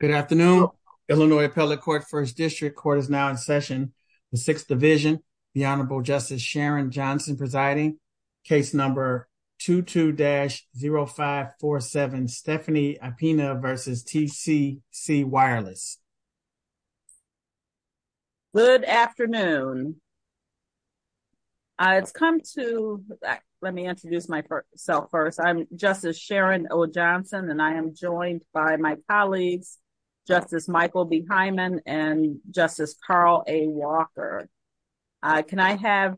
Good afternoon, Illinois appellate court first district court is now in session. The sixth division, the Honorable Justice Sharon Johnson presiding case number 22 dash 0547 Stephanie Ipina versus TCC Wireless. Good afternoon. Good afternoon. It's come to that, let me introduce myself first I'm just as Sharon Oh Johnson and I am joined by my colleagues, Justice Michael behind them and justice Carl a Walker. Can I have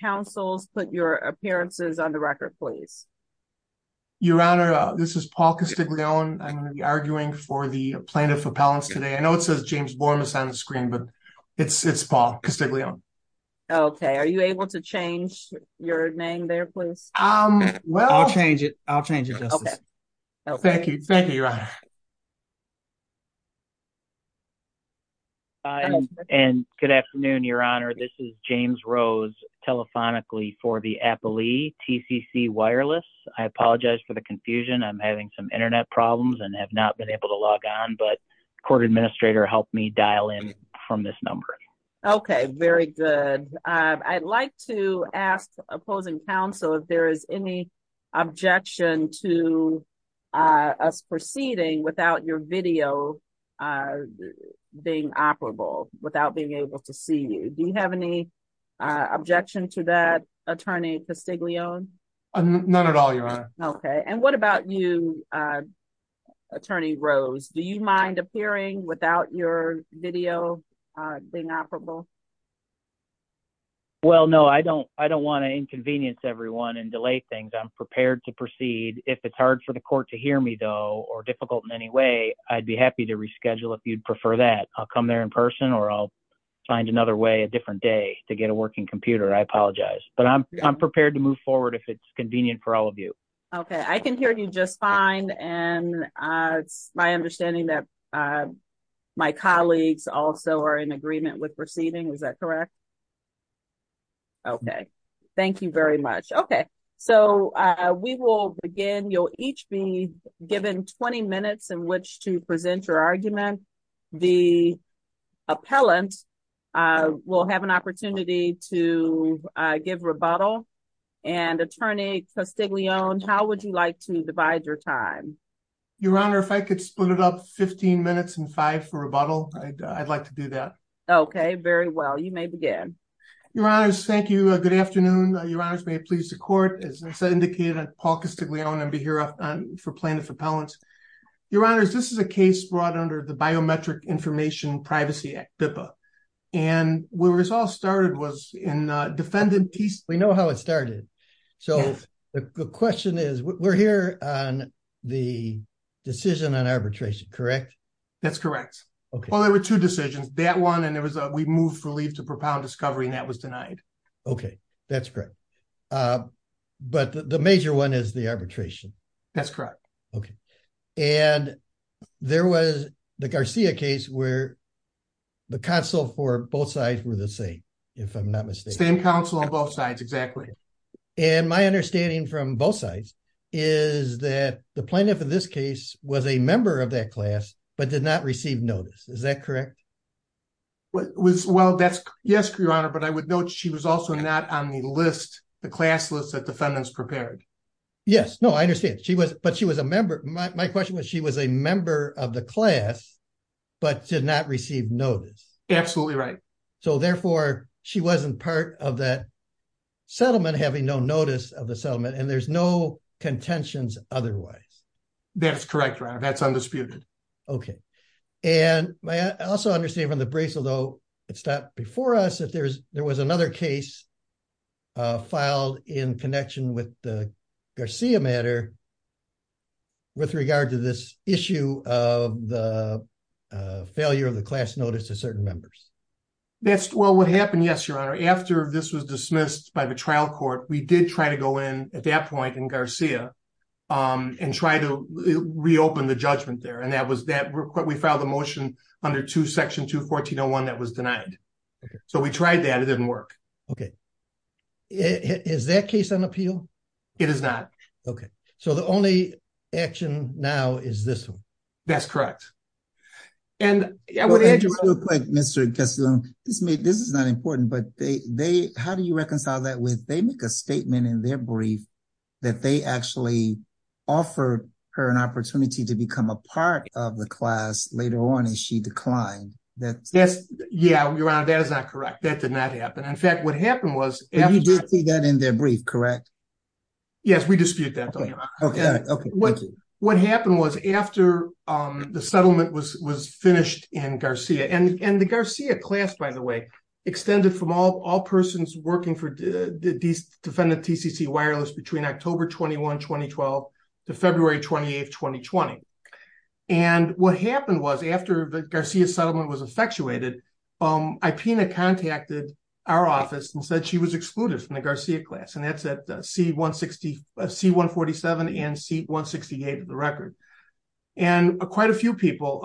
councils put your appearances on the record, please. Your Honor, this is Paul Castiglione I'm going to be arguing for the plaintiff appellants today I know it says James Bourne is on the screen but it's it's Paul Castiglione. Okay, are you able to change your name there please. Um, well I'll change it. I'll change it. Thank you. Thank you. And good afternoon, Your Honor, this is James rose telephonically for the appellee TCC Wireless, I apologize for the confusion I'm having some internet problems and have not been able to log on but court administrator helped me dial in from this number. Okay, very good. I'd like to ask opposing council if there is any objection to us proceeding without your video being operable without being able to see you do you have any objection to that attorney Castiglione. None at all, Your Honor. Okay. And what about you, attorney rose Do you mind appearing without your video being operable. Well no I don't, I don't want to inconvenience everyone and delay things I'm prepared to proceed, if it's hard for the court to hear me though or difficult in any way, I'd be happy to reschedule if you'd prefer that I'll come there in person or I'll find another way a different day to get a working computer I apologize, but I'm, I'm prepared to move forward if it's convenient for all of you. Okay, I can hear you just fine. And it's my understanding that my colleagues also are in agreement with proceeding was that correct. Okay, thank you very much. Okay, so we will begin you'll each be given 20 minutes in which to present your argument. The appellant will have an opportunity to give rebuttal and attorney Castiglione How would you like to divide your time. Your Honor, if I could split it up 15 minutes and five for rebuttal, I'd like to do that. Okay, very well you may begin. Your Honors, thank you. Good afternoon. Your Honors, may it please the court as indicated at Paul Castiglione and be here for plaintiff appellants. Your Honors, this is a case brought under the biometric information Privacy Act, BIPA, and where it all started was in defendant piece, we know how it started. So, the question is, we're here on the decision on arbitration correct. That's correct. Okay, well there were two decisions that one and there was a we moved for leave to propound discovery and that was denied. Okay, that's great. But the major one is the arbitration. That's correct. Okay. And there was the Garcia case where the console for both sides were the same. If I'm not mistaken, counsel on both sides. Exactly. And my understanding from both sides is that the plaintiff in this case was a member of that class, but did not receive notice. Is that correct. Well, that's yes, Your Honor, but I would note she was also not on the list, the class list that defendants prepared. Yes, no, I understand. She was, but she was a member. My question was she was a member of the class, but did not receive notice. Absolutely right. So therefore, she wasn't part of that settlement having no notice of the settlement and there's no contentions, otherwise. That's correct. That's undisputed. Okay. And I also understand from the bracelet, though, it stopped before us if there's, there was another case filed in connection with the Garcia matter. With regard to this issue of the failure of the class notice to certain members. That's well what happened. Yes, Your Honor, after this was dismissed by the trial court, we did try to go in at that point in Garcia and try to reopen the judgment there and that was that we filed a motion under to section to 1401 that was denied. So we tried that it didn't work. Okay. Is that case on appeal. It is not. Okay, so the only action now is this one. That's correct. And Mr. This is not important, but they, they, how do you reconcile that with they make a statement in their brief that they actually offer her an opportunity to become a part of the class later on and she declined that. Yes. Yeah, Your Honor, that is not correct. That did not happen. In fact, what happened was that in their brief. Correct. Yes, we dispute that. What happened was after the settlement was was finished in Garcia and and the Garcia class, by the way, extended from all all persons working for the defendant TCC wireless between October 21 2012 to February 28 2020. And what happened was after the Garcia settlement was effectuated. Um, I Pina contacted our office and said she was excluded from the Garcia class and that's at C 160 C 147 and C 168 of the record. And quite a few people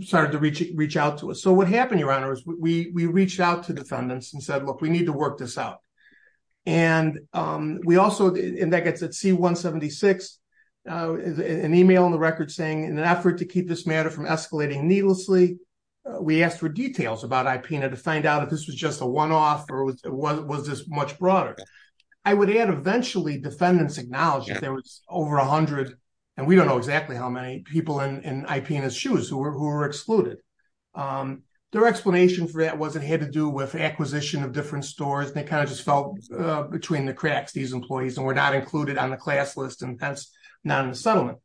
started to reach, reach out to us so what happened Your Honor is we reached out to defendants and said look we need to work this out. And we also in that gets at C 176 is an email on the record saying in an effort to keep this matter from escalating needlessly. We asked for details about I Pina to find out if this was just a one off or was this much broader. I would add eventually defendants acknowledge that there was over 100, and we don't know exactly how many people in I Pina's shoes who were who were excluded. Their explanation for that was it had to do with acquisition of different stores they kind of just felt between the cracks these employees and we're not included on the class list and that's not in the settlement.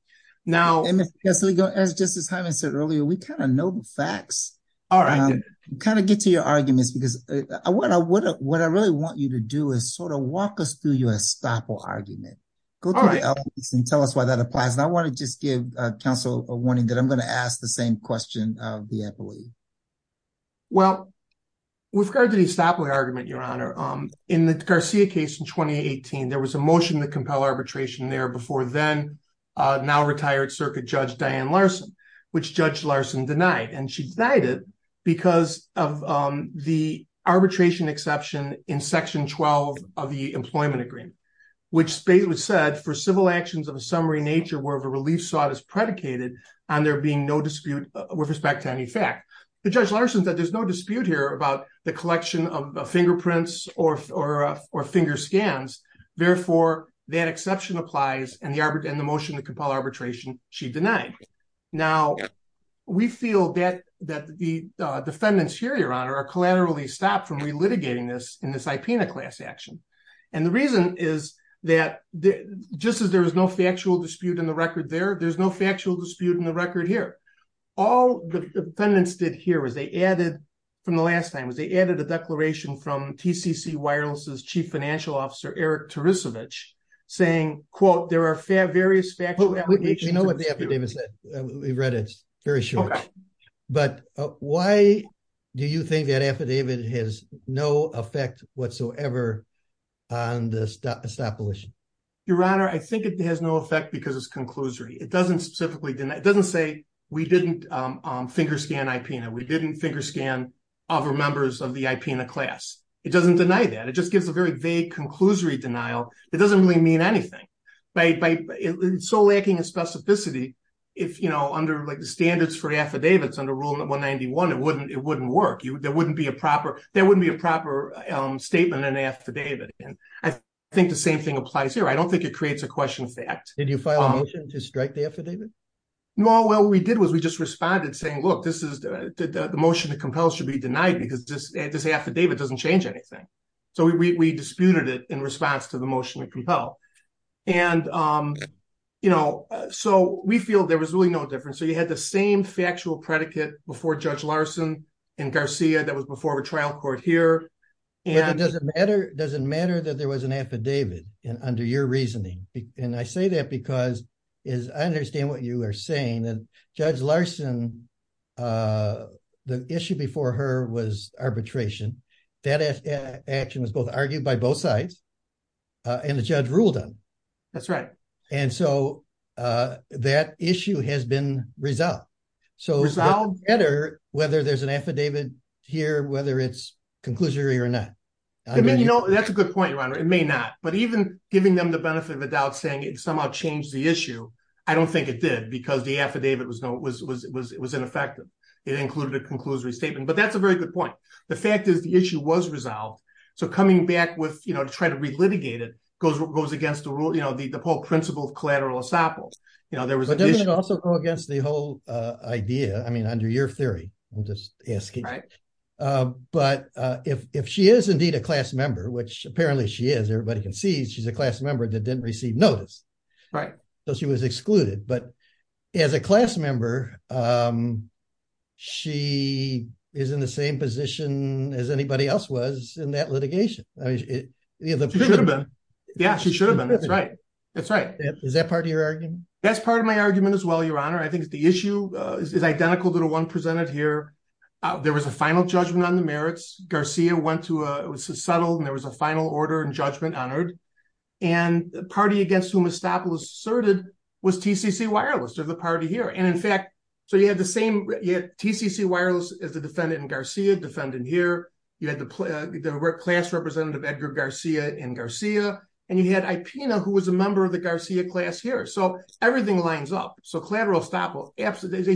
Now, as Justice Hyman said earlier, we kind of know the facts. All right, kind of get to your arguments because I want to what I really want you to do is sort of walk us through your estoppel argument. Go to the evidence and tell us why that applies and I want to just give counsel a warning that I'm going to ask the same question of the employee. Well, we've heard that he stopped my argument your honor in the Garcia case in 2018 there was a motion to compel arbitration there before then now retired circuit judge Diane Larson, which judge Larson denied and she died it because of the arbitration exception in section 12 of the employment agreement, which state was said for civil actions of a summary nature where the relief sought is predicated on there being no dispute with respect to any fact. The judge lessons that there's no dispute here about the collection of fingerprints, or, or, or finger scans. Therefore, that exception applies and the arbor and the motion to compel arbitration, she denied. Now, we feel that that the defendants here your honor are collateral he stopped from relitigating this in this IP in a class action. And the reason is that just as there was no factual dispute in the record there there's no factual dispute in the record here. All the defendants did here was they added from the last time was they added a declaration from TCC wireless is chief financial officer Eric to research, saying, quote, there are fair various factors. You know what the evidence that we read it's very short. But why do you think that affidavit has no effect whatsoever. Your Honor, I think it has no effect because it's conclusory it doesn't specifically didn't it doesn't say we didn't finger scan IP and we didn't finger scan other members of the IP in the class, it doesn't deny that it just gives a very vague it doesn't really mean anything by so lacking in specificity. If you know under like the standards for affidavits under rule 191 it wouldn't it wouldn't work you there wouldn't be a proper, there wouldn't be a proper statement and affidavit. And I think the same thing applies here I don't think it creates a question of fact, did you file a motion to strike the affidavit. No well we did was we just responded saying look this is the motion to compel should be denied because just add this affidavit doesn't change anything. So we disputed it in response to the motion to compel. And, you know, so we feel there was really no difference so you had the same factual predicate before Judge Larson and Garcia that was before a trial court here. And it doesn't matter, doesn't matter that there was an affidavit, and under your reasoning, and I say that because is understand what you are saying that Judge Larson. The issue before her was arbitration that action was both argued by both sides. And the judge ruled on. That's right. And so, that issue has been resolved. So it's all better, whether there's an affidavit here whether it's conclusory or not. I mean you know that's a good point right it may not, but even giving them the benefit of the doubt saying it somehow changed the issue. I don't think it did because the affidavit was no it was it was it was ineffective. It included a conclusory statement but that's a very good point. The fact is the issue was resolved. So coming back with, you know, to try to relitigate it goes what goes against the rule you know the whole principle of collateral assault. You know there was also go against the whole idea I mean under your theory. I'm just asking. But if she is indeed a class member which apparently she is everybody can see she's a class member that didn't receive notice. Right. So she was excluded but as a class member. She is in the same position as anybody else was in that litigation. Yeah, she should have been. That's right. That's right. Is that part of your argument. That's part of my argument as well your honor I think the issue is identical to the one presented here. There was a final judgment on the merits Garcia went to a subtle and there was a final order and judgment honored and party against whom established asserted was TCC wireless or the party here and in fact, so you have the same yet TCC wireless is the defendant here. You had the class representative Edgar Garcia and Garcia, and you had a peanut who was a member of the Garcia class here so everything lines up so collateral stop will absolutely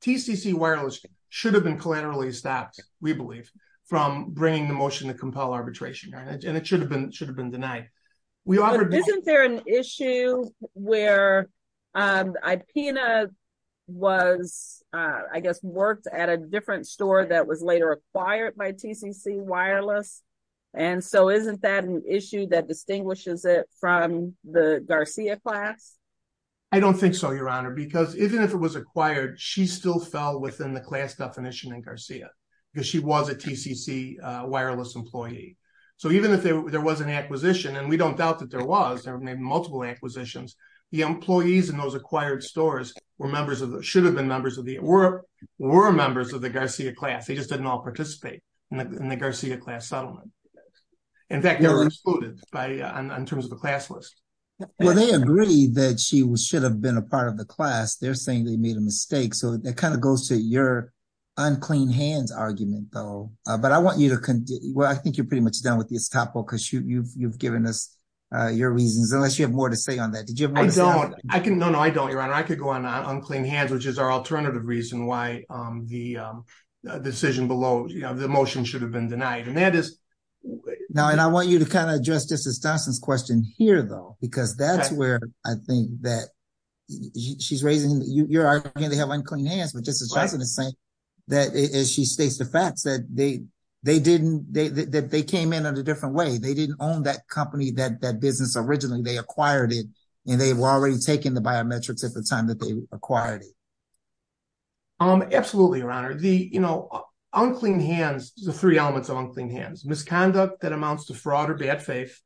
TCC wireless should have been collateral he stopped, we believe, from bringing the motion to compel arbitration and it should have been should have been denied. We offered isn't there an issue where I peanut was, I guess worked at a different store that was later acquired by TCC wireless. And so isn't that an issue that distinguishes it from the Garcia class. I don't think so your honor because even if it was acquired she still fell within the class definition and Garcia, because she was a TCC wireless employee. So even if there was an acquisition and we don't doubt that there was there may be multiple acquisitions, the employees in those acquired stores were members of the should have been members of the world were members of the Garcia class they just didn't all participate in the Garcia class settlement. In fact, they were excluded by in terms of the class list. Well they agree that she was should have been a part of the class they're saying they made a mistake so that kind of goes to your unclean hands argument, though, but I want you to. Well I think you're pretty much done with this topical because you've you've given us your reasons unless you have more to say on that did you don't, I can no no I don't your honor I could go on unclean hands which is our alternative reason why the decision below the motion should have been denied and that is. Now and I want you to kind of address this is Dustin's question here though, because that's where I think that she's raising your hand they have unclean hands with just the same. That is she states the facts that they, they didn't, they came in a different way they didn't own that company that that business originally they acquired it, and they've already taken the biometrics at the time that they acquired it. Absolutely. Your Honor, the, you know, unclean hands, the three elements unclean hands misconduct that amounts to fraud or bad faith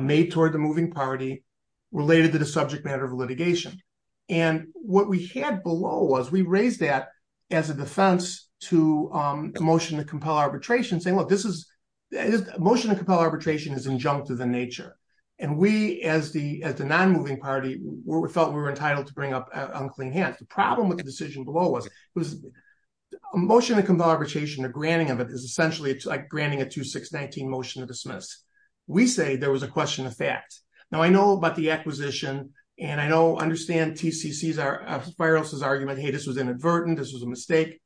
made toward the moving party related to the subject matter of litigation. And what we had below was we raised that as a defense to motion to compel arbitration saying look this is motion to compel arbitration is injunctive in nature. And we as the as the non moving party, we felt we were entitled to bring up unclean hands the problem with the decision below was was motion to compel arbitration or granting of it is essentially it's like granting a to 619 motion to dismiss. We say there was a question of fact. Now I know about the acquisition, and I know understand TCCs are spirals his argument hey this was inadvertent this was a mistake.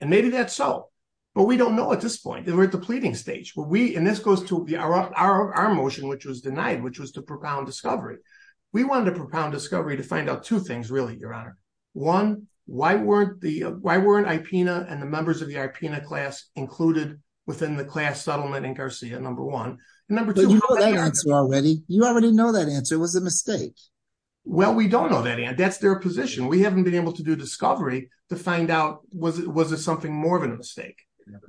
And maybe that's so, but we don't know at this point that we're at the pleading stage where we in this goes to be our, our motion which was denied which was to propound discovery. We wanted to propound discovery to find out two things really your honor. One, why weren't the why weren't I Pina and the members of the IP class included within the class settlement in Garcia number one, number two already, you already know that answer was a mistake. Well, we don't know that and that's their position we haven't been able to do discovery to find out, was it was it something more of a mistake.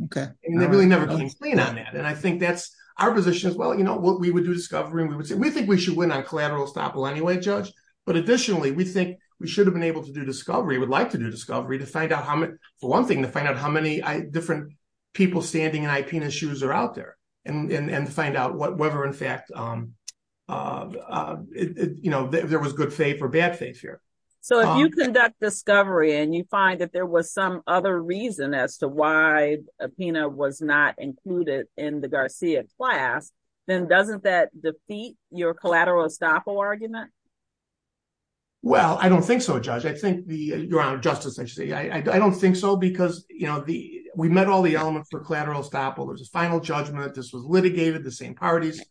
Okay, and they really never complained on that and I think that's our position as well you know what we would do discovery and we would say we think we should win on collateral stop anyway judge, but additionally we think we should have been able to do discovery would like to do discovery to find out how much for one thing to find out how many different people standing and I penis shoes are out there and find out what whether in fact, you know, there was good faith or bad faith here. So if you conduct discovery and you find that there was some other reason as to why a peanut was not included in the Garcia class, then doesn't that defeat your collateral stop argument. Well, I don't think so judge I think the ground justice I see I don't think so because, you know, the, we met all the elements for collateral stop all there's a final judgment that this was litigated the same parties.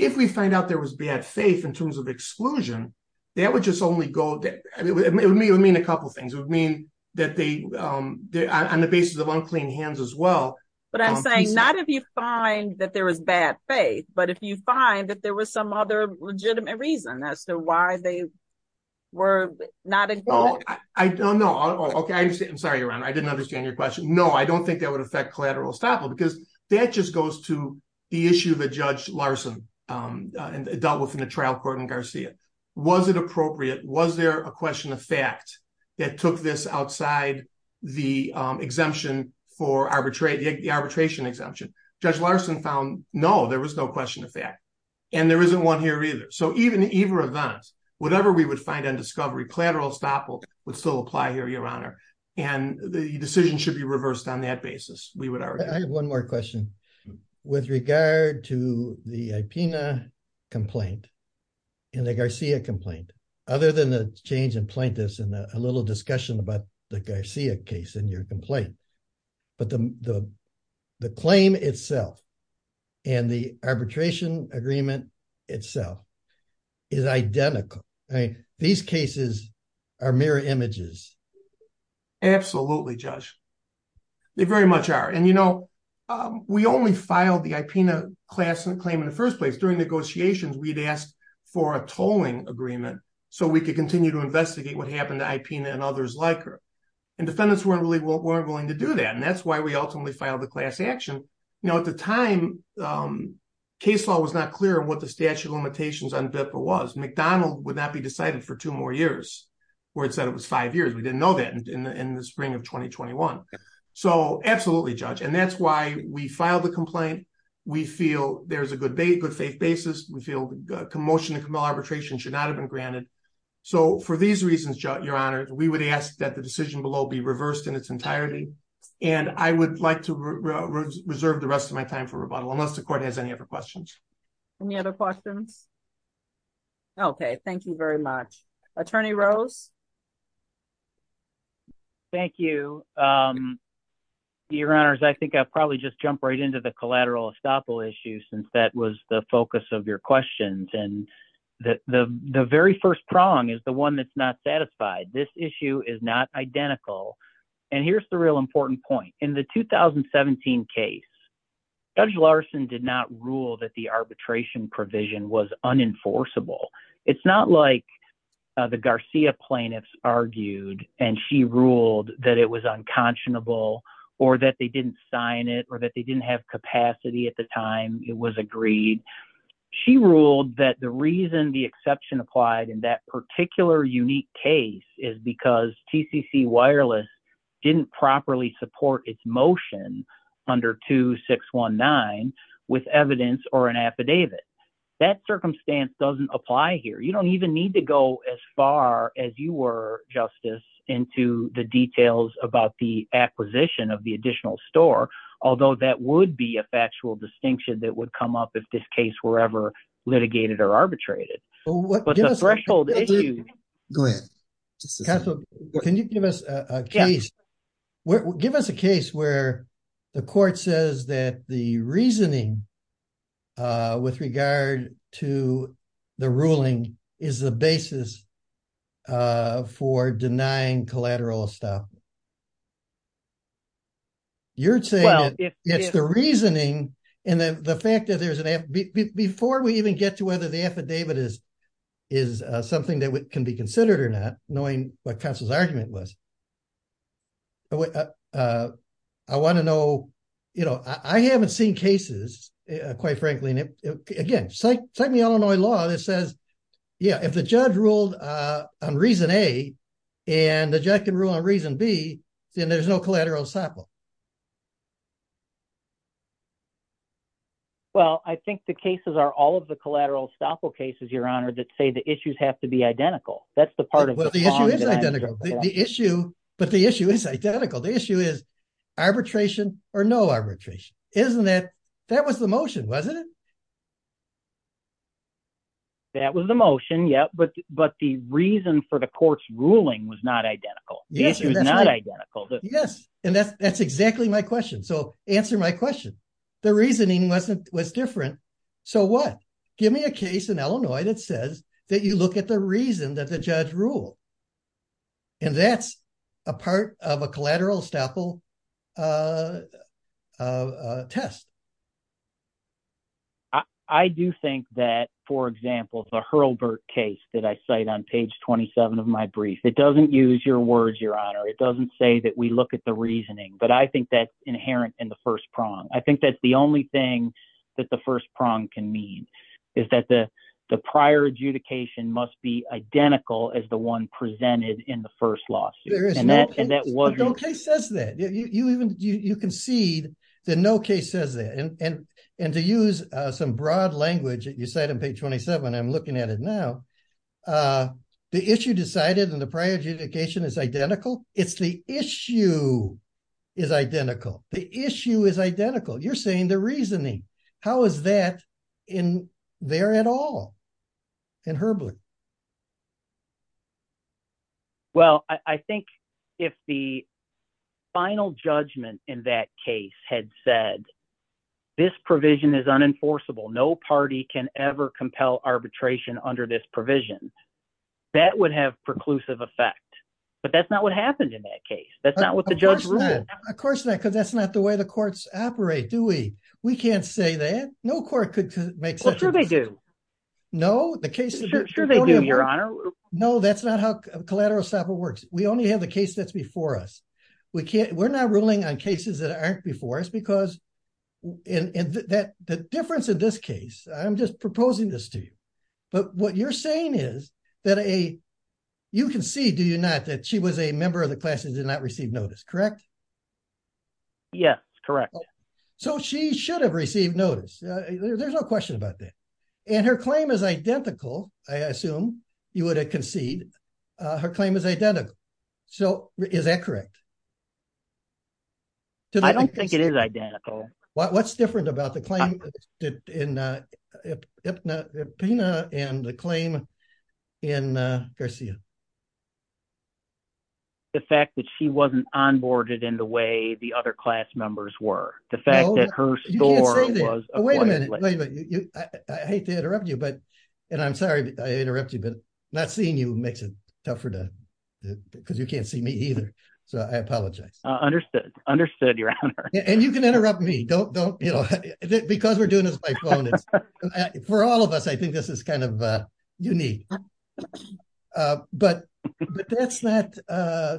If we find out there was bad faith in terms of exclusion, that would just only go, it would mean a couple things would mean that they on the basis of unclean hands as well. But I'm saying not if you find that there was bad faith, but if you find that there was some other legitimate reason as to why they were not. I don't know. Okay, I'm sorry around I didn't understand your question. No, I don't think that would affect collateral stop because that just goes to the issue that Judge Larson dealt with in the trial court and Garcia. Was it appropriate was there a question of fact that took this outside the exemption for arbitrate the arbitration exemption, Judge Larson found, no, there was no question of that. And there isn't one here either so even either of us, whatever we would find on discovery collateral stop would still apply here your honor, and the decision should be reversed on that basis, we would have one more question. With regard to the Pina complaint in the Garcia complaint. Other than the change in plaintiffs and a little discussion about the Garcia case in your complaint. But the, the claim itself, and the arbitration agreement itself is identical. I mean, these cases are mirror images. Absolutely, Josh. They very much are and you know, we only filed the Pina class and claim in the first place during negotiations we'd asked for a tolling agreement, so we could continue to investigate what happened to IP and others like her and defendants weren't really weren't willing to do that and that's why we ultimately filed the class action. Now at the time, case law was not clear what the statute of limitations on BIPPA was McDonald would not be decided for two more years, where it said it was five years we didn't know that in the in the spring of 2021. So absolutely judge and that's why we filed the complaint. We feel there's a good day good faith basis, we feel commotion and arbitration should not have been granted. So for these reasons, your honor, we would ask that the decision below be reversed in its entirety. And I would like to reserve the rest of my time for rebuttal unless the court has any other questions. Any other questions. Okay, thank you very much. Attorney rose. Thank you. Your Honors, I think I probably just jump right into the collateral estoppel issue since that was the focus of your questions and that the very first prong is the one that's not satisfied this issue is not identical. And here's the real important point in the 2017 case. Judge Larson did not rule that the arbitration provision was unenforceable. It's not like the Garcia plaintiffs argued, and she ruled that it was unconscionable, or that they didn't sign it or that they didn't have capacity at the time, it was agreed. She ruled that the reason the exception applied in that particular unique case is because TCC wireless didn't properly support its motion under 2619 with evidence or an affidavit. That circumstance doesn't apply here you don't even need to go as far as you were justice into the details about the acquisition of the additional store, although that would be a factual distinction that would come up if this case were ever litigated or arbitrated. Go ahead. Can you give us a case where give us a case where the court says that the reasoning. With regard to the ruling is the basis for denying collateral stuff. You're saying, it's the reasoning. And then the fact that there's an app before we even get to whether the affidavit is, is something that can be considered or not, knowing what counsel's argument was. I want to know, you know, I haven't seen cases, quite frankly, and again, like, like the Illinois law that says, yeah, if the judge ruled on reason a, and the jacket rule on reason B, then there's no collateral sample. Well, I think the cases are all of the collateral sample cases your honor that say the issues have to be identical. That's the part of the issue, but the issue is identical. The issue is arbitration, or no arbitration, isn't it. That was the motion wasn't it. That was the motion. Yeah, but, but the reason for the courts ruling was not identical. Yes, not identical. Yes. And that's, that's exactly my question. So, answer my question. The reasoning wasn't was different. So what, give me a case in Illinois that says that you look at the reason that the judge rule. And that's a part of a collateral sample test. I do think that, for example, the Hurlburt case that I cite on page 27 of my brief, it doesn't use your words, your honor, it doesn't say that we look at the reasoning, but I think that's inherent in the first prong. I think that's the only thing that the first prong can mean is that the, the prior adjudication must be identical as the one presented in the first law. And that and that was okay says that you even you can see that no case says that and, and, and to use some broad language that you said on page 27 I'm looking at it now. The issue decided and the prior adjudication is identical. It's the issue is identical, the issue is identical you're saying the reasoning. How is that in there at all. And Hurley. Well, I think if the final judgment in that case had said this provision is unenforceable no party can ever compel arbitration under this provision that would have preclusive effect, but that's not what happened in that case, that's not what the judge. Of course, because that's not the way the courts operate do we, we can't say that no court could make sure they do know the case. Sure they do your honor. No, that's not how collateral separate works, we only have the case that's before us. We can't we're not ruling on cases that aren't before us because in that the difference in this case, I'm just proposing this to you. But what you're saying is that a. You can see do you not that she was a member of the classes did not receive notice correct. Yes, correct. So she should have received notice. There's no question about that. And her claim is identical. I assume you would have concede her claim is identical. So, is that correct. I don't think it is identical. What's different about the claim in the claim in Garcia. The fact that she wasn't on boarded in the way the other class members were the fact that her story was. I hate to interrupt you but, and I'm sorry I interrupt you but not seeing you makes it tougher to, because you can't see me either. So I apologize. Understood. Understood. And you can interrupt me don't don't, you know, because we're doing this. For all of us I think this is kind of unique. But, but that's not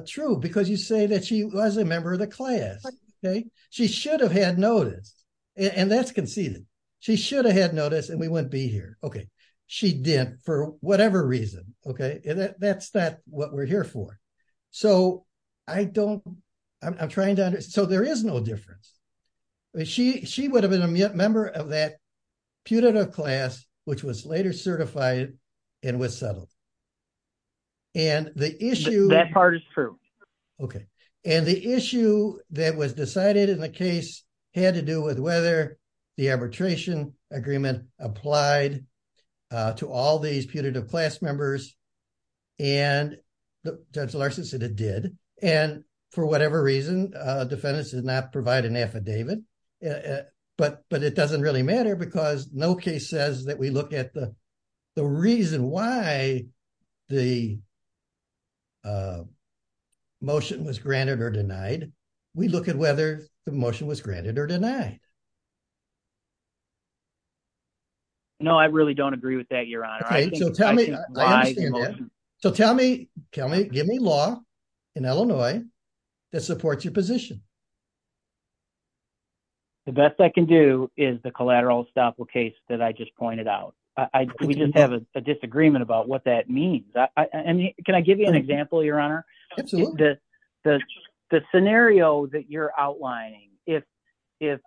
true because you say that she was a member of the class. Okay, she should have had noticed. And that's conceded. She should have had noticed and we wouldn't be here. Okay. She did, for whatever reason. Okay, that's that what we're here for. So, I don't. I'm trying to. So there is no difference. She would have been a member of that putative class, which was later certified and was settled. And the issue that part is true. Okay. And the issue that was decided in the case had to do with whether the arbitration agreement applied to all these putative class members. And it did, and for whatever reason, defendants did not provide an affidavit. But, but it doesn't really matter because no case says that we look at the. The reason why the. Motion was granted or denied. We look at whether the motion was granted or denied. No, I really don't agree with that. You're on. Okay. So tell me. So tell me, tell me, give me law in Illinois. That supports your position. The best I can do is the collateral estoppel case that I just pointed out. I didn't have a disagreement about what that means. I mean, can I give you an example, Your Honor. The scenario that you're outlining, if, if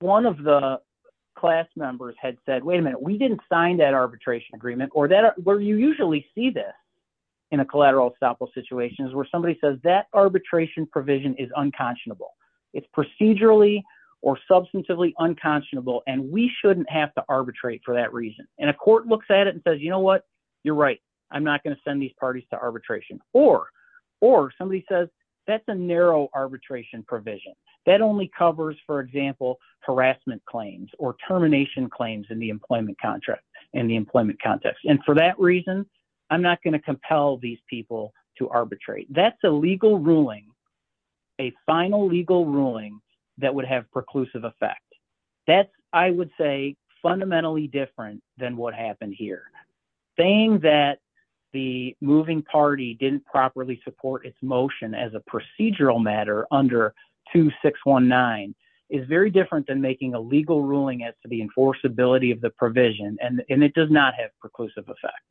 one of the class members had said, wait a minute, we didn't sign that arbitration agreement or that where you usually see this. In a collateral estoppel situations where somebody says that arbitration provision is unconscionable. It's procedurally or substantively unconscionable and we shouldn't have to arbitrate for that reason. And a court looks at it and says, you know what, you're right. I'm not going to send these parties to arbitration or, or somebody says that's a narrow arbitration provision that only covers for example harassment claims or termination claims in the employment contract in the employment context. And for that reason, I'm not going to compel these people to arbitrate. That's a legal ruling. A final legal ruling that would have preclusive effect. That's, I would say, fundamentally different than what happened here. Saying that the moving party didn't properly support its motion as a procedural matter under 2619 is very different than making a legal ruling as to the enforceability of the provision and it does not have preclusive effect.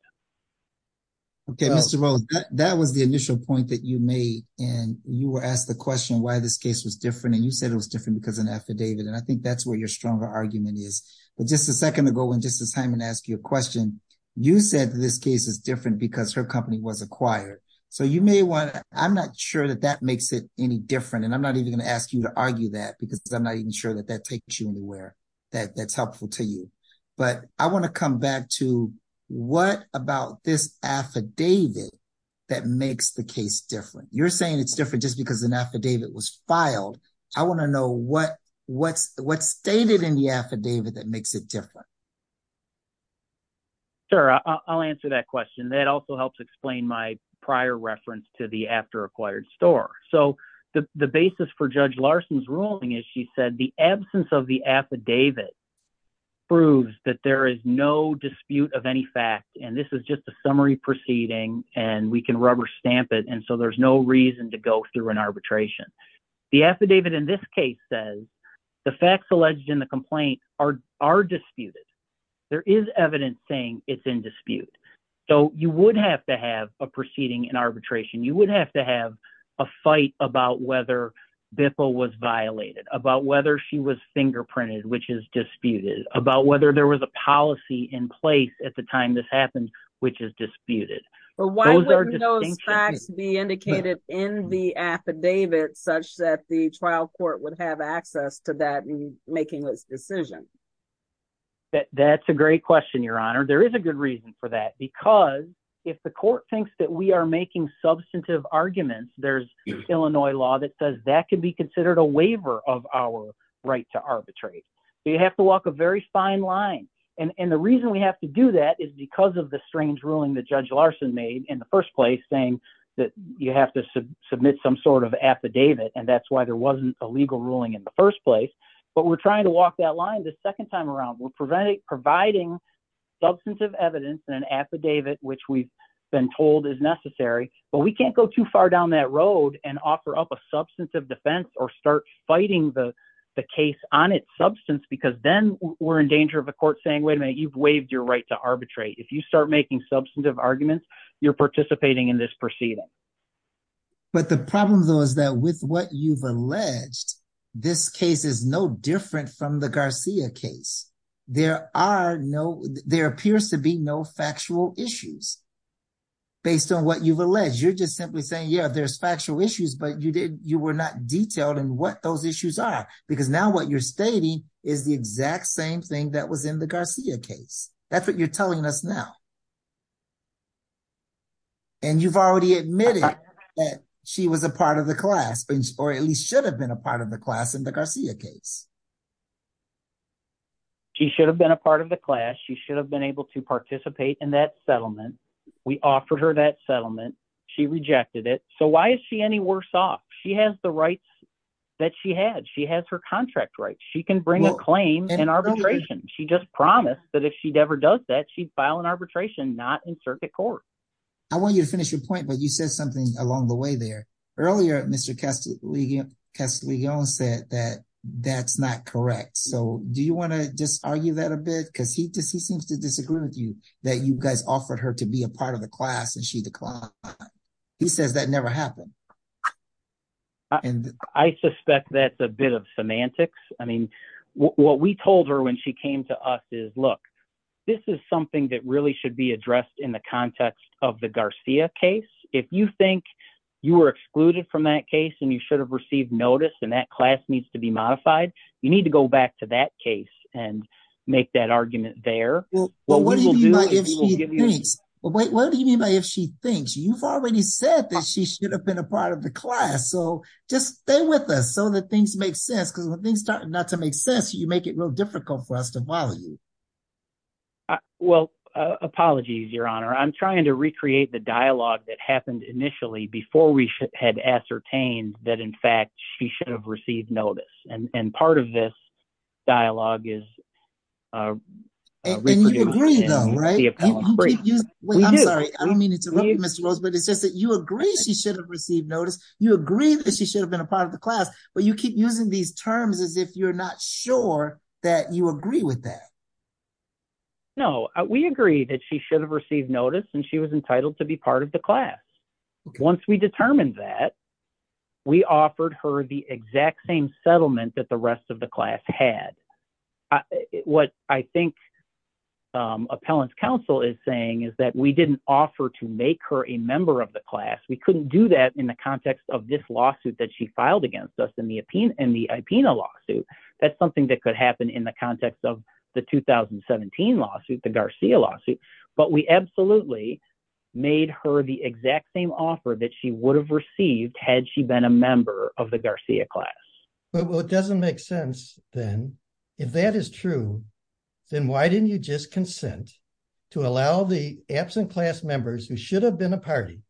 Okay, Mr. Rose, that was the initial point that you made, and you were asked the question why this case was different and you said it was different because an affidavit and I think that's where your stronger argument is. But just a second ago when Justice Hyman asked you a question, you said this case is different because her company was acquired. So you may want to, I'm not sure that that makes it any different and I'm not even going to ask you to argue that because I'm not even sure that that takes you anywhere. That's helpful to you. But I want to come back to what about this affidavit that makes the case different. You're saying it's different just because an affidavit was filed. I want to know what's stated in the affidavit that makes it different. Sure, I'll answer that question. That also helps explain my prior reference to the after acquired store. So the basis for Judge Larson's ruling is she said the absence of the affidavit proves that there is no dispute of any fact and this is just a summary proceeding and we can rubber stamp it and so there's no reason to go through an arbitration. The affidavit in this case says the facts alleged in the complaint are disputed. There is evidence saying it's in dispute. So you would have to have a proceeding in arbitration. You would have to have a fight about whether Bipple was violated, about whether she was fingerprinted, which is disputed, about whether there was a policy in place at the time this happened, which is disputed. Why wouldn't those facts be indicated in the affidavit such that the trial court would have access to that in making this decision? That's a great question, Your Honor. There is a good reason for that because if the court thinks that we are making substantive arguments, there's Illinois law that says that could be considered a waiver of our right to arbitrate. You have to walk a very fine line and the reason we have to do that is because of the strange ruling that Judge Larson made in the first place saying that you have to submit some sort of affidavit and that's why there wasn't a legal ruling in the first place. But we're trying to walk that line the second time around. We're providing substantive evidence in an affidavit, which we've been told is necessary. But we can't go too far down that road and offer up a substantive defense or start fighting the case on its substance because then we're in danger of a court saying, wait a minute, you've waived your right to arbitrate. If you start making substantive arguments, you're participating in this proceeding. But the problem, though, is that with what you've alleged, this case is no different from the Garcia case. There appears to be no factual issues based on what you've alleged. You're just simply saying, yeah, there's factual issues, but you were not detailed in what those issues are because now what you're stating is the exact same thing that was in the Garcia case. That's what you're telling us now. And you've already admitted that she was a part of the class or at least should have been a part of the class in the Garcia case. She should have been a part of the class. She should have been able to participate in that settlement. We offered her that settlement. She rejected it. So why is she any worse off? She has the rights that she had. She has her contract rights. She can bring a claim in arbitration. She just promised that if she ever does that, she'd file an arbitration, not in circuit court. I want you to finish your point, but you said something along the way there. Earlier, Mr. Castiglione said that that's not correct. So do you want to just argue that a bit? Because he seems to disagree with you that you guys offered her to be a part of the class and she declined. He says that never happened. And I suspect that's a bit of semantics. I mean, what we told her when she came to us is, look, this is something that really should be addressed in the context of the Garcia case. If you think you were excluded from that case and you should have received notice and that class needs to be modified, you need to go back to that case and make that argument there. What do you mean by if she thinks? You've already said that she should have been a part of the class. So just stay with us so that things make sense, because when things start not to make sense, you make it real difficult for us to follow you. Well, apologies, Your Honor, I'm trying to recreate the dialogue that happened initially before we had ascertained that, in fact, she should have received notice. And part of this dialogue is. And you agree, though, right? I'm sorry, I don't mean to interrupt you, Mr. Rose, but it's just that you agree she should have received notice. You agree that she should have been a part of the class, but you keep using these terms as if you're not sure that you agree with that. No, we agree that she should have received notice and she was entitled to be part of the class. Once we determined that, we offered her the exact same settlement that the rest of the class had. What I think appellant's counsel is saying is that we didn't offer to make her a member of the class. We couldn't do that in the context of this lawsuit that she filed against us in the IPENA lawsuit. That's something that could happen in the context of the 2017 lawsuit, the Garcia lawsuit. But we absolutely made her the exact same offer that she would have received had she been a member of the Garcia class. Well, it doesn't make sense then. If that is true, then why didn't you just consent to allow the absent class members who should have been a party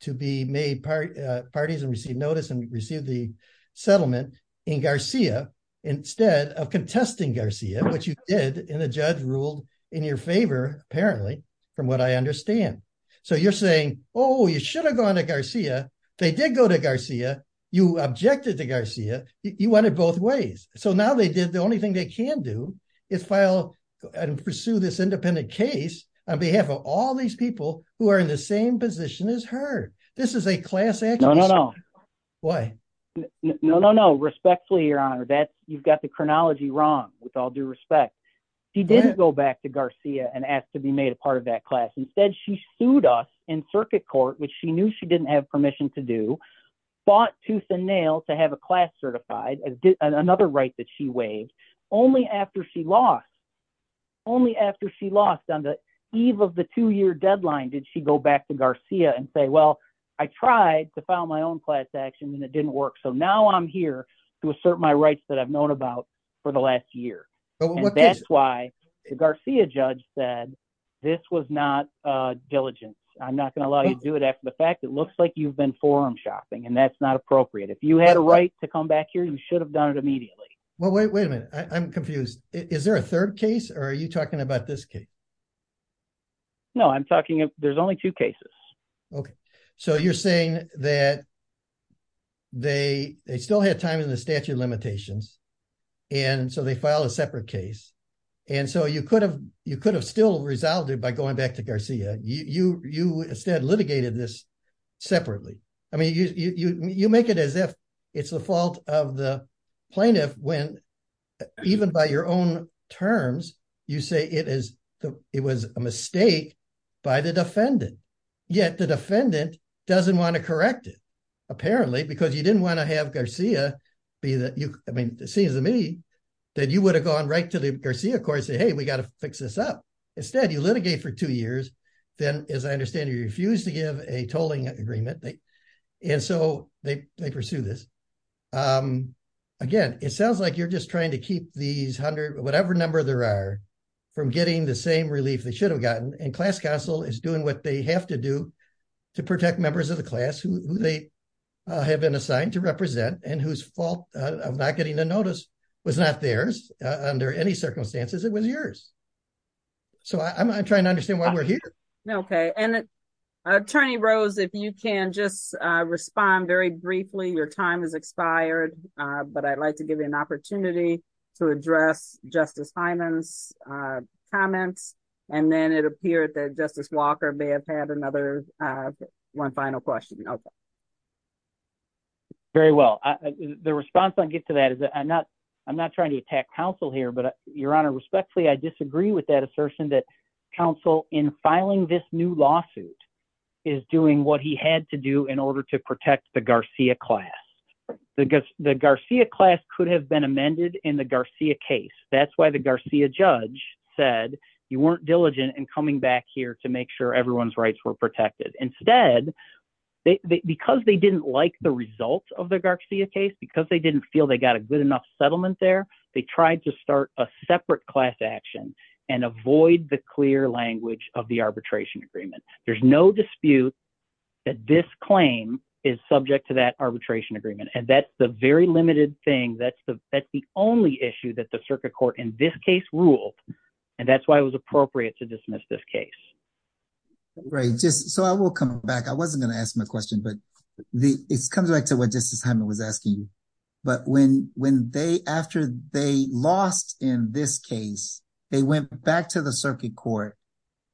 to be made parties and receive notice and receive the settlement in Garcia instead of contesting Garcia, which you did and the judge ruled in your favor, apparently, from what I understand. So you're saying, oh, you should have gone to Garcia. They did go to Garcia. You objected to Garcia. You went in both ways. So now they did. The only thing they can do is file and pursue this independent case on behalf of all these people who are in the same position as her. This is a class action. No, no, no. Respectfully, Your Honor, you've got the chronology wrong, with all due respect. She didn't go back to Garcia and ask to be made a part of that class. Instead, she sued us in circuit court, which she knew she didn't have permission to do, fought tooth and nail to have a class certified, another right that she waived. Only after she lost, only after she lost on the eve of the two-year deadline, did she go back to Garcia and say, well, I tried to file my own class action and it didn't work. So now I'm here to assert my rights that I've known about for the last year. That's why the Garcia judge said this was not diligent. I'm not going to allow you to do it after the fact. It looks like you've been forum shopping and that's not appropriate. If you had a right to come back here, you should have done it immediately. Well, wait, wait a minute. I'm confused. Is there a third case or are you talking about this case? No, I'm talking, there's only two cases. Okay. So you're saying that they still had time in the statute of limitations. And so they filed a separate case. And so you could have still resolved it by going back to Garcia. You instead litigated this separately. I mean, you make it as if it's the fault of the plaintiff when even by your own terms, you say it was a mistake by the defendant. Yet the defendant doesn't want to correct it, apparently, because you didn't want to have Garcia be the, I mean, it seems to me that you would have gone right to the Garcia court and say, hey, we got to fix this up. Instead, you litigate for two years. Then, as I understand, you refuse to give a tolling agreement. And so they pursue this. Again, it sounds like you're just trying to keep these hundred, whatever number there are, from getting the same relief they should have gotten. And class council is doing what they have to do to protect members of the class who they have been assigned to represent and whose fault of not getting the notice was not theirs. Under any circumstances, it was yours. So I'm trying to understand why we're here. Okay. And Attorney Rose, if you can just respond very briefly, your time has expired, but I'd like to give you an opportunity to address Justice Hyman's comments, and then it appeared that Justice Walker may have had another one final question. Very well, the response I get to that is that I'm not I'm not trying to attack counsel here, but your honor respectfully, I disagree with that assertion that counsel in filing this new lawsuit is doing what he had to do in order to protect the Garcia class. The Garcia class could have been amended in the Garcia case. That's why the Garcia judge said you weren't diligent in coming back here to make sure everyone's rights were protected. Instead, because they didn't like the results of the Garcia case, because they didn't feel they got a good enough settlement there, they tried to start a separate class action and avoid the clear language of the arbitration agreement. There's no dispute that this claim is subject to that arbitration agreement. And that's the very limited thing. That's the only issue that the circuit court in this case ruled. And that's why it was appropriate to dismiss this case. Right, just so I will come back. I wasn't going to ask my question, but it comes back to what Justice Hyman was asking. But when when they after they lost in this case, they went back to the circuit court.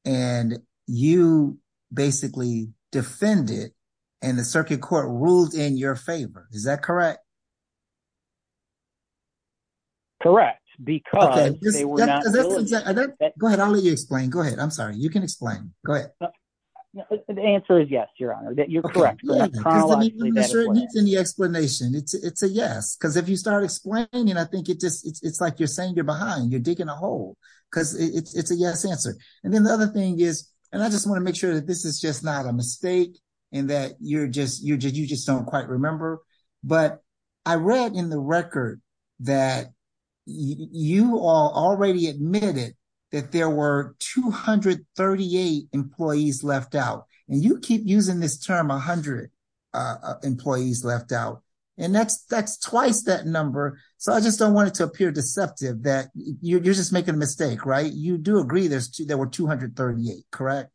And you basically defend it and the circuit court ruled in your favor. Is that correct? Correct, because they were not. Go ahead. I'll let you explain. Go ahead. I'm sorry. You can explain. Go ahead. The answer is yes, Your Honor, that you're correct. In the explanation, it's a yes, because if you start explaining, I think it just it's like you're saying you're behind you're digging a hole because it's a yes answer. And then the other thing is, and I just want to make sure that this is just not a mistake. And that you're just you're just you just don't quite remember. But I read in the record that you all already admitted that there were 238 employees left out and you keep using this term 100 employees left out. And that's that's twice that number. So I just don't want it to appear deceptive that you're just making a mistake. Right. You do agree. There's there were 238. Correct.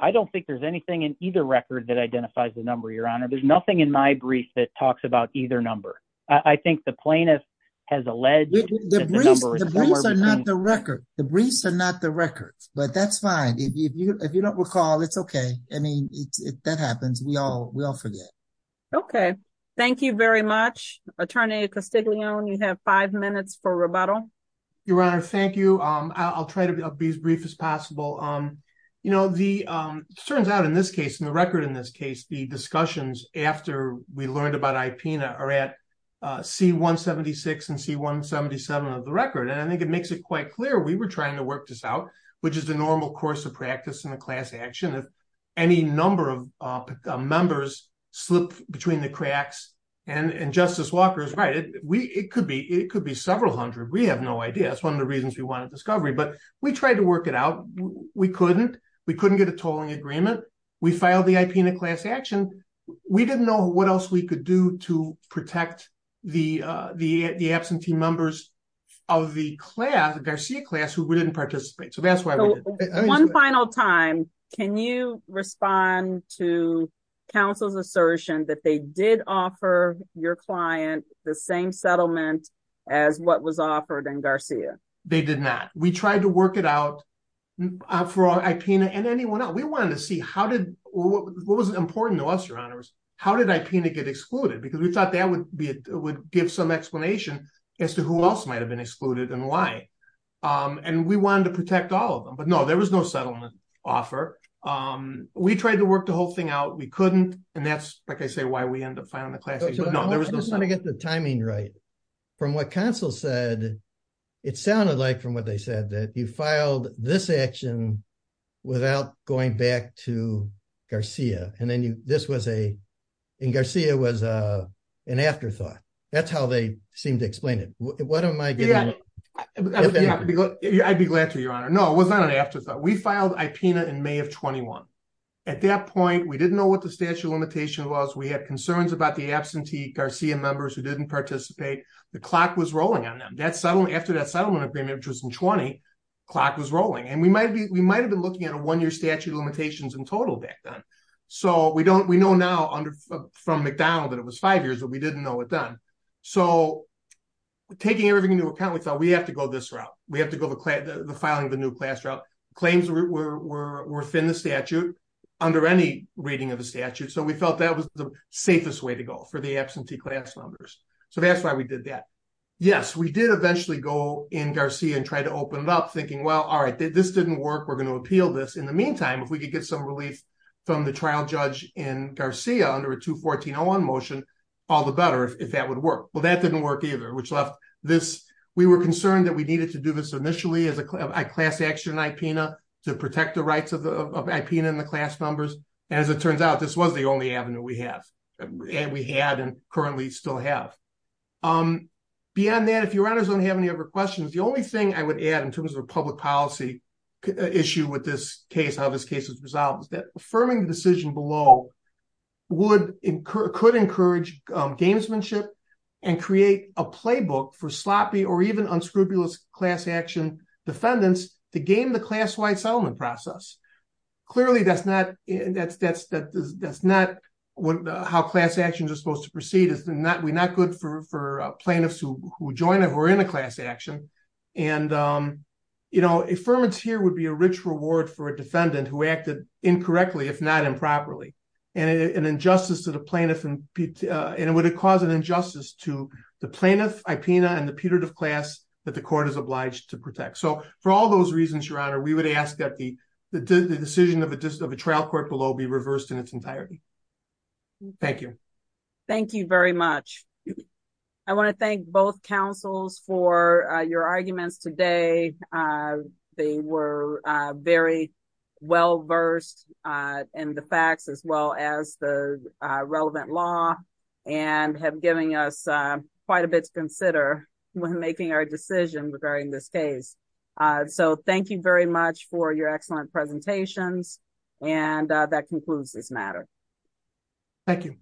I don't think there's anything in either record that identifies the number. Your Honor. There's nothing in my brief that talks about either number. I think the plaintiff has alleged The briefs are not the record. The briefs are not the records, but that's fine. If you don't recall, it's okay. I mean, if that happens, we all we all forget. Okay, thank you very much. Attorney Castiglione, you have five minutes for rebuttal. Your Honor, thank you. I'll try to be as brief as possible. Um, you know, the turns out in this case in the record. In this case, the discussions after we learned about IP now are at C-176 and C-177 of the record. And I think it makes it quite clear we were trying to work this out, which is the normal course of practice in a class action. If any number of members slip between the cracks and Justice Walker is right, it could be several hundred. We have no idea. That's one of the reasons we wanted discovery, but we tried to work it out. We couldn't. We couldn't get a tolling agreement. We filed the IP in a class action. We didn't know what else we could do to protect the absentee members of the Garcia class who didn't participate. One final time. Can you respond to counsel's assertion that they did offer your client the same settlement as what was offered in Garcia? They did not. We tried to work it out for IP and anyone else. We wanted to see how did what was important to us, Your Honor. How did IP get excluded? Because we thought that would be it would give some explanation as to who else might have been excluded and why. And we wanted to protect all of them. But no, there was no settlement offer. We tried to work the whole thing out. We couldn't. And that's like I say, why we end up filing the class. I just want to get the timing right. From what counsel said, it sounded like from what they said that you filed this action without going back to Garcia and then this was a Garcia was an afterthought. That's how they seem to explain it. What am I getting? I'd be glad to, Your Honor. No, it was not an afterthought. We filed IP in May of 21. At that point, we didn't know what the statute limitation was. We had concerns about the absentee Garcia members who didn't participate. The clock was rolling on them. That's settled after that settlement agreement, which was in 20 clock was rolling and we might be we might have been looking at a one year statute limitations in total back then. So we don't we know now under from McDonald that it was five years that we didn't know what done. So, taking everything into account, we thought we have to go this route, we have to go to the filing of the new class route claims were within the statute under any reading of the statute. So we felt that was the safest way to go for the absentee class numbers. So that's why we did that. Yes, we did eventually go in Garcia and try to open it up thinking, well, all right, this didn't work. We're going to appeal this. In the meantime, if we could get some relief from the trial judge in Garcia under a 214-01 motion, all the better if that would work. Well, that didn't work either, which left this. We were concerned that we needed to do this initially as a class action IPNA to protect the rights of IPNA and the class numbers. As it turns out, this was the only avenue we have and we had and currently still have. Beyond that, if you don't have any other questions, the only thing I would add in terms of a public policy issue with this case, how this case is resolved, is that affirming the decision below could encourage gamesmanship and create a playbook for sloppy or even unscrupulous class action defendants to game the class-wide settlement process. Clearly, that's not how class actions are supposed to proceed. It's not good for plaintiffs who join or who are in a class action. Affirmance here would be a rich reward for a defendant who acted incorrectly, if not improperly, and it would cause an injustice to the plaintiff, IPNA, and the putative class that the court is obliged to protect. So for all those reasons, Your Honor, we would ask that the decision of a trial court below be reversed in its entirety. Thank you. Thank you very much. I want to thank both counsels for your arguments today. They were very well versed in the facts as well as the relevant law and have given us quite a bit to consider when making our decision regarding this case. So thank you very much for your excellent presentations. And that concludes this matter. Thank you.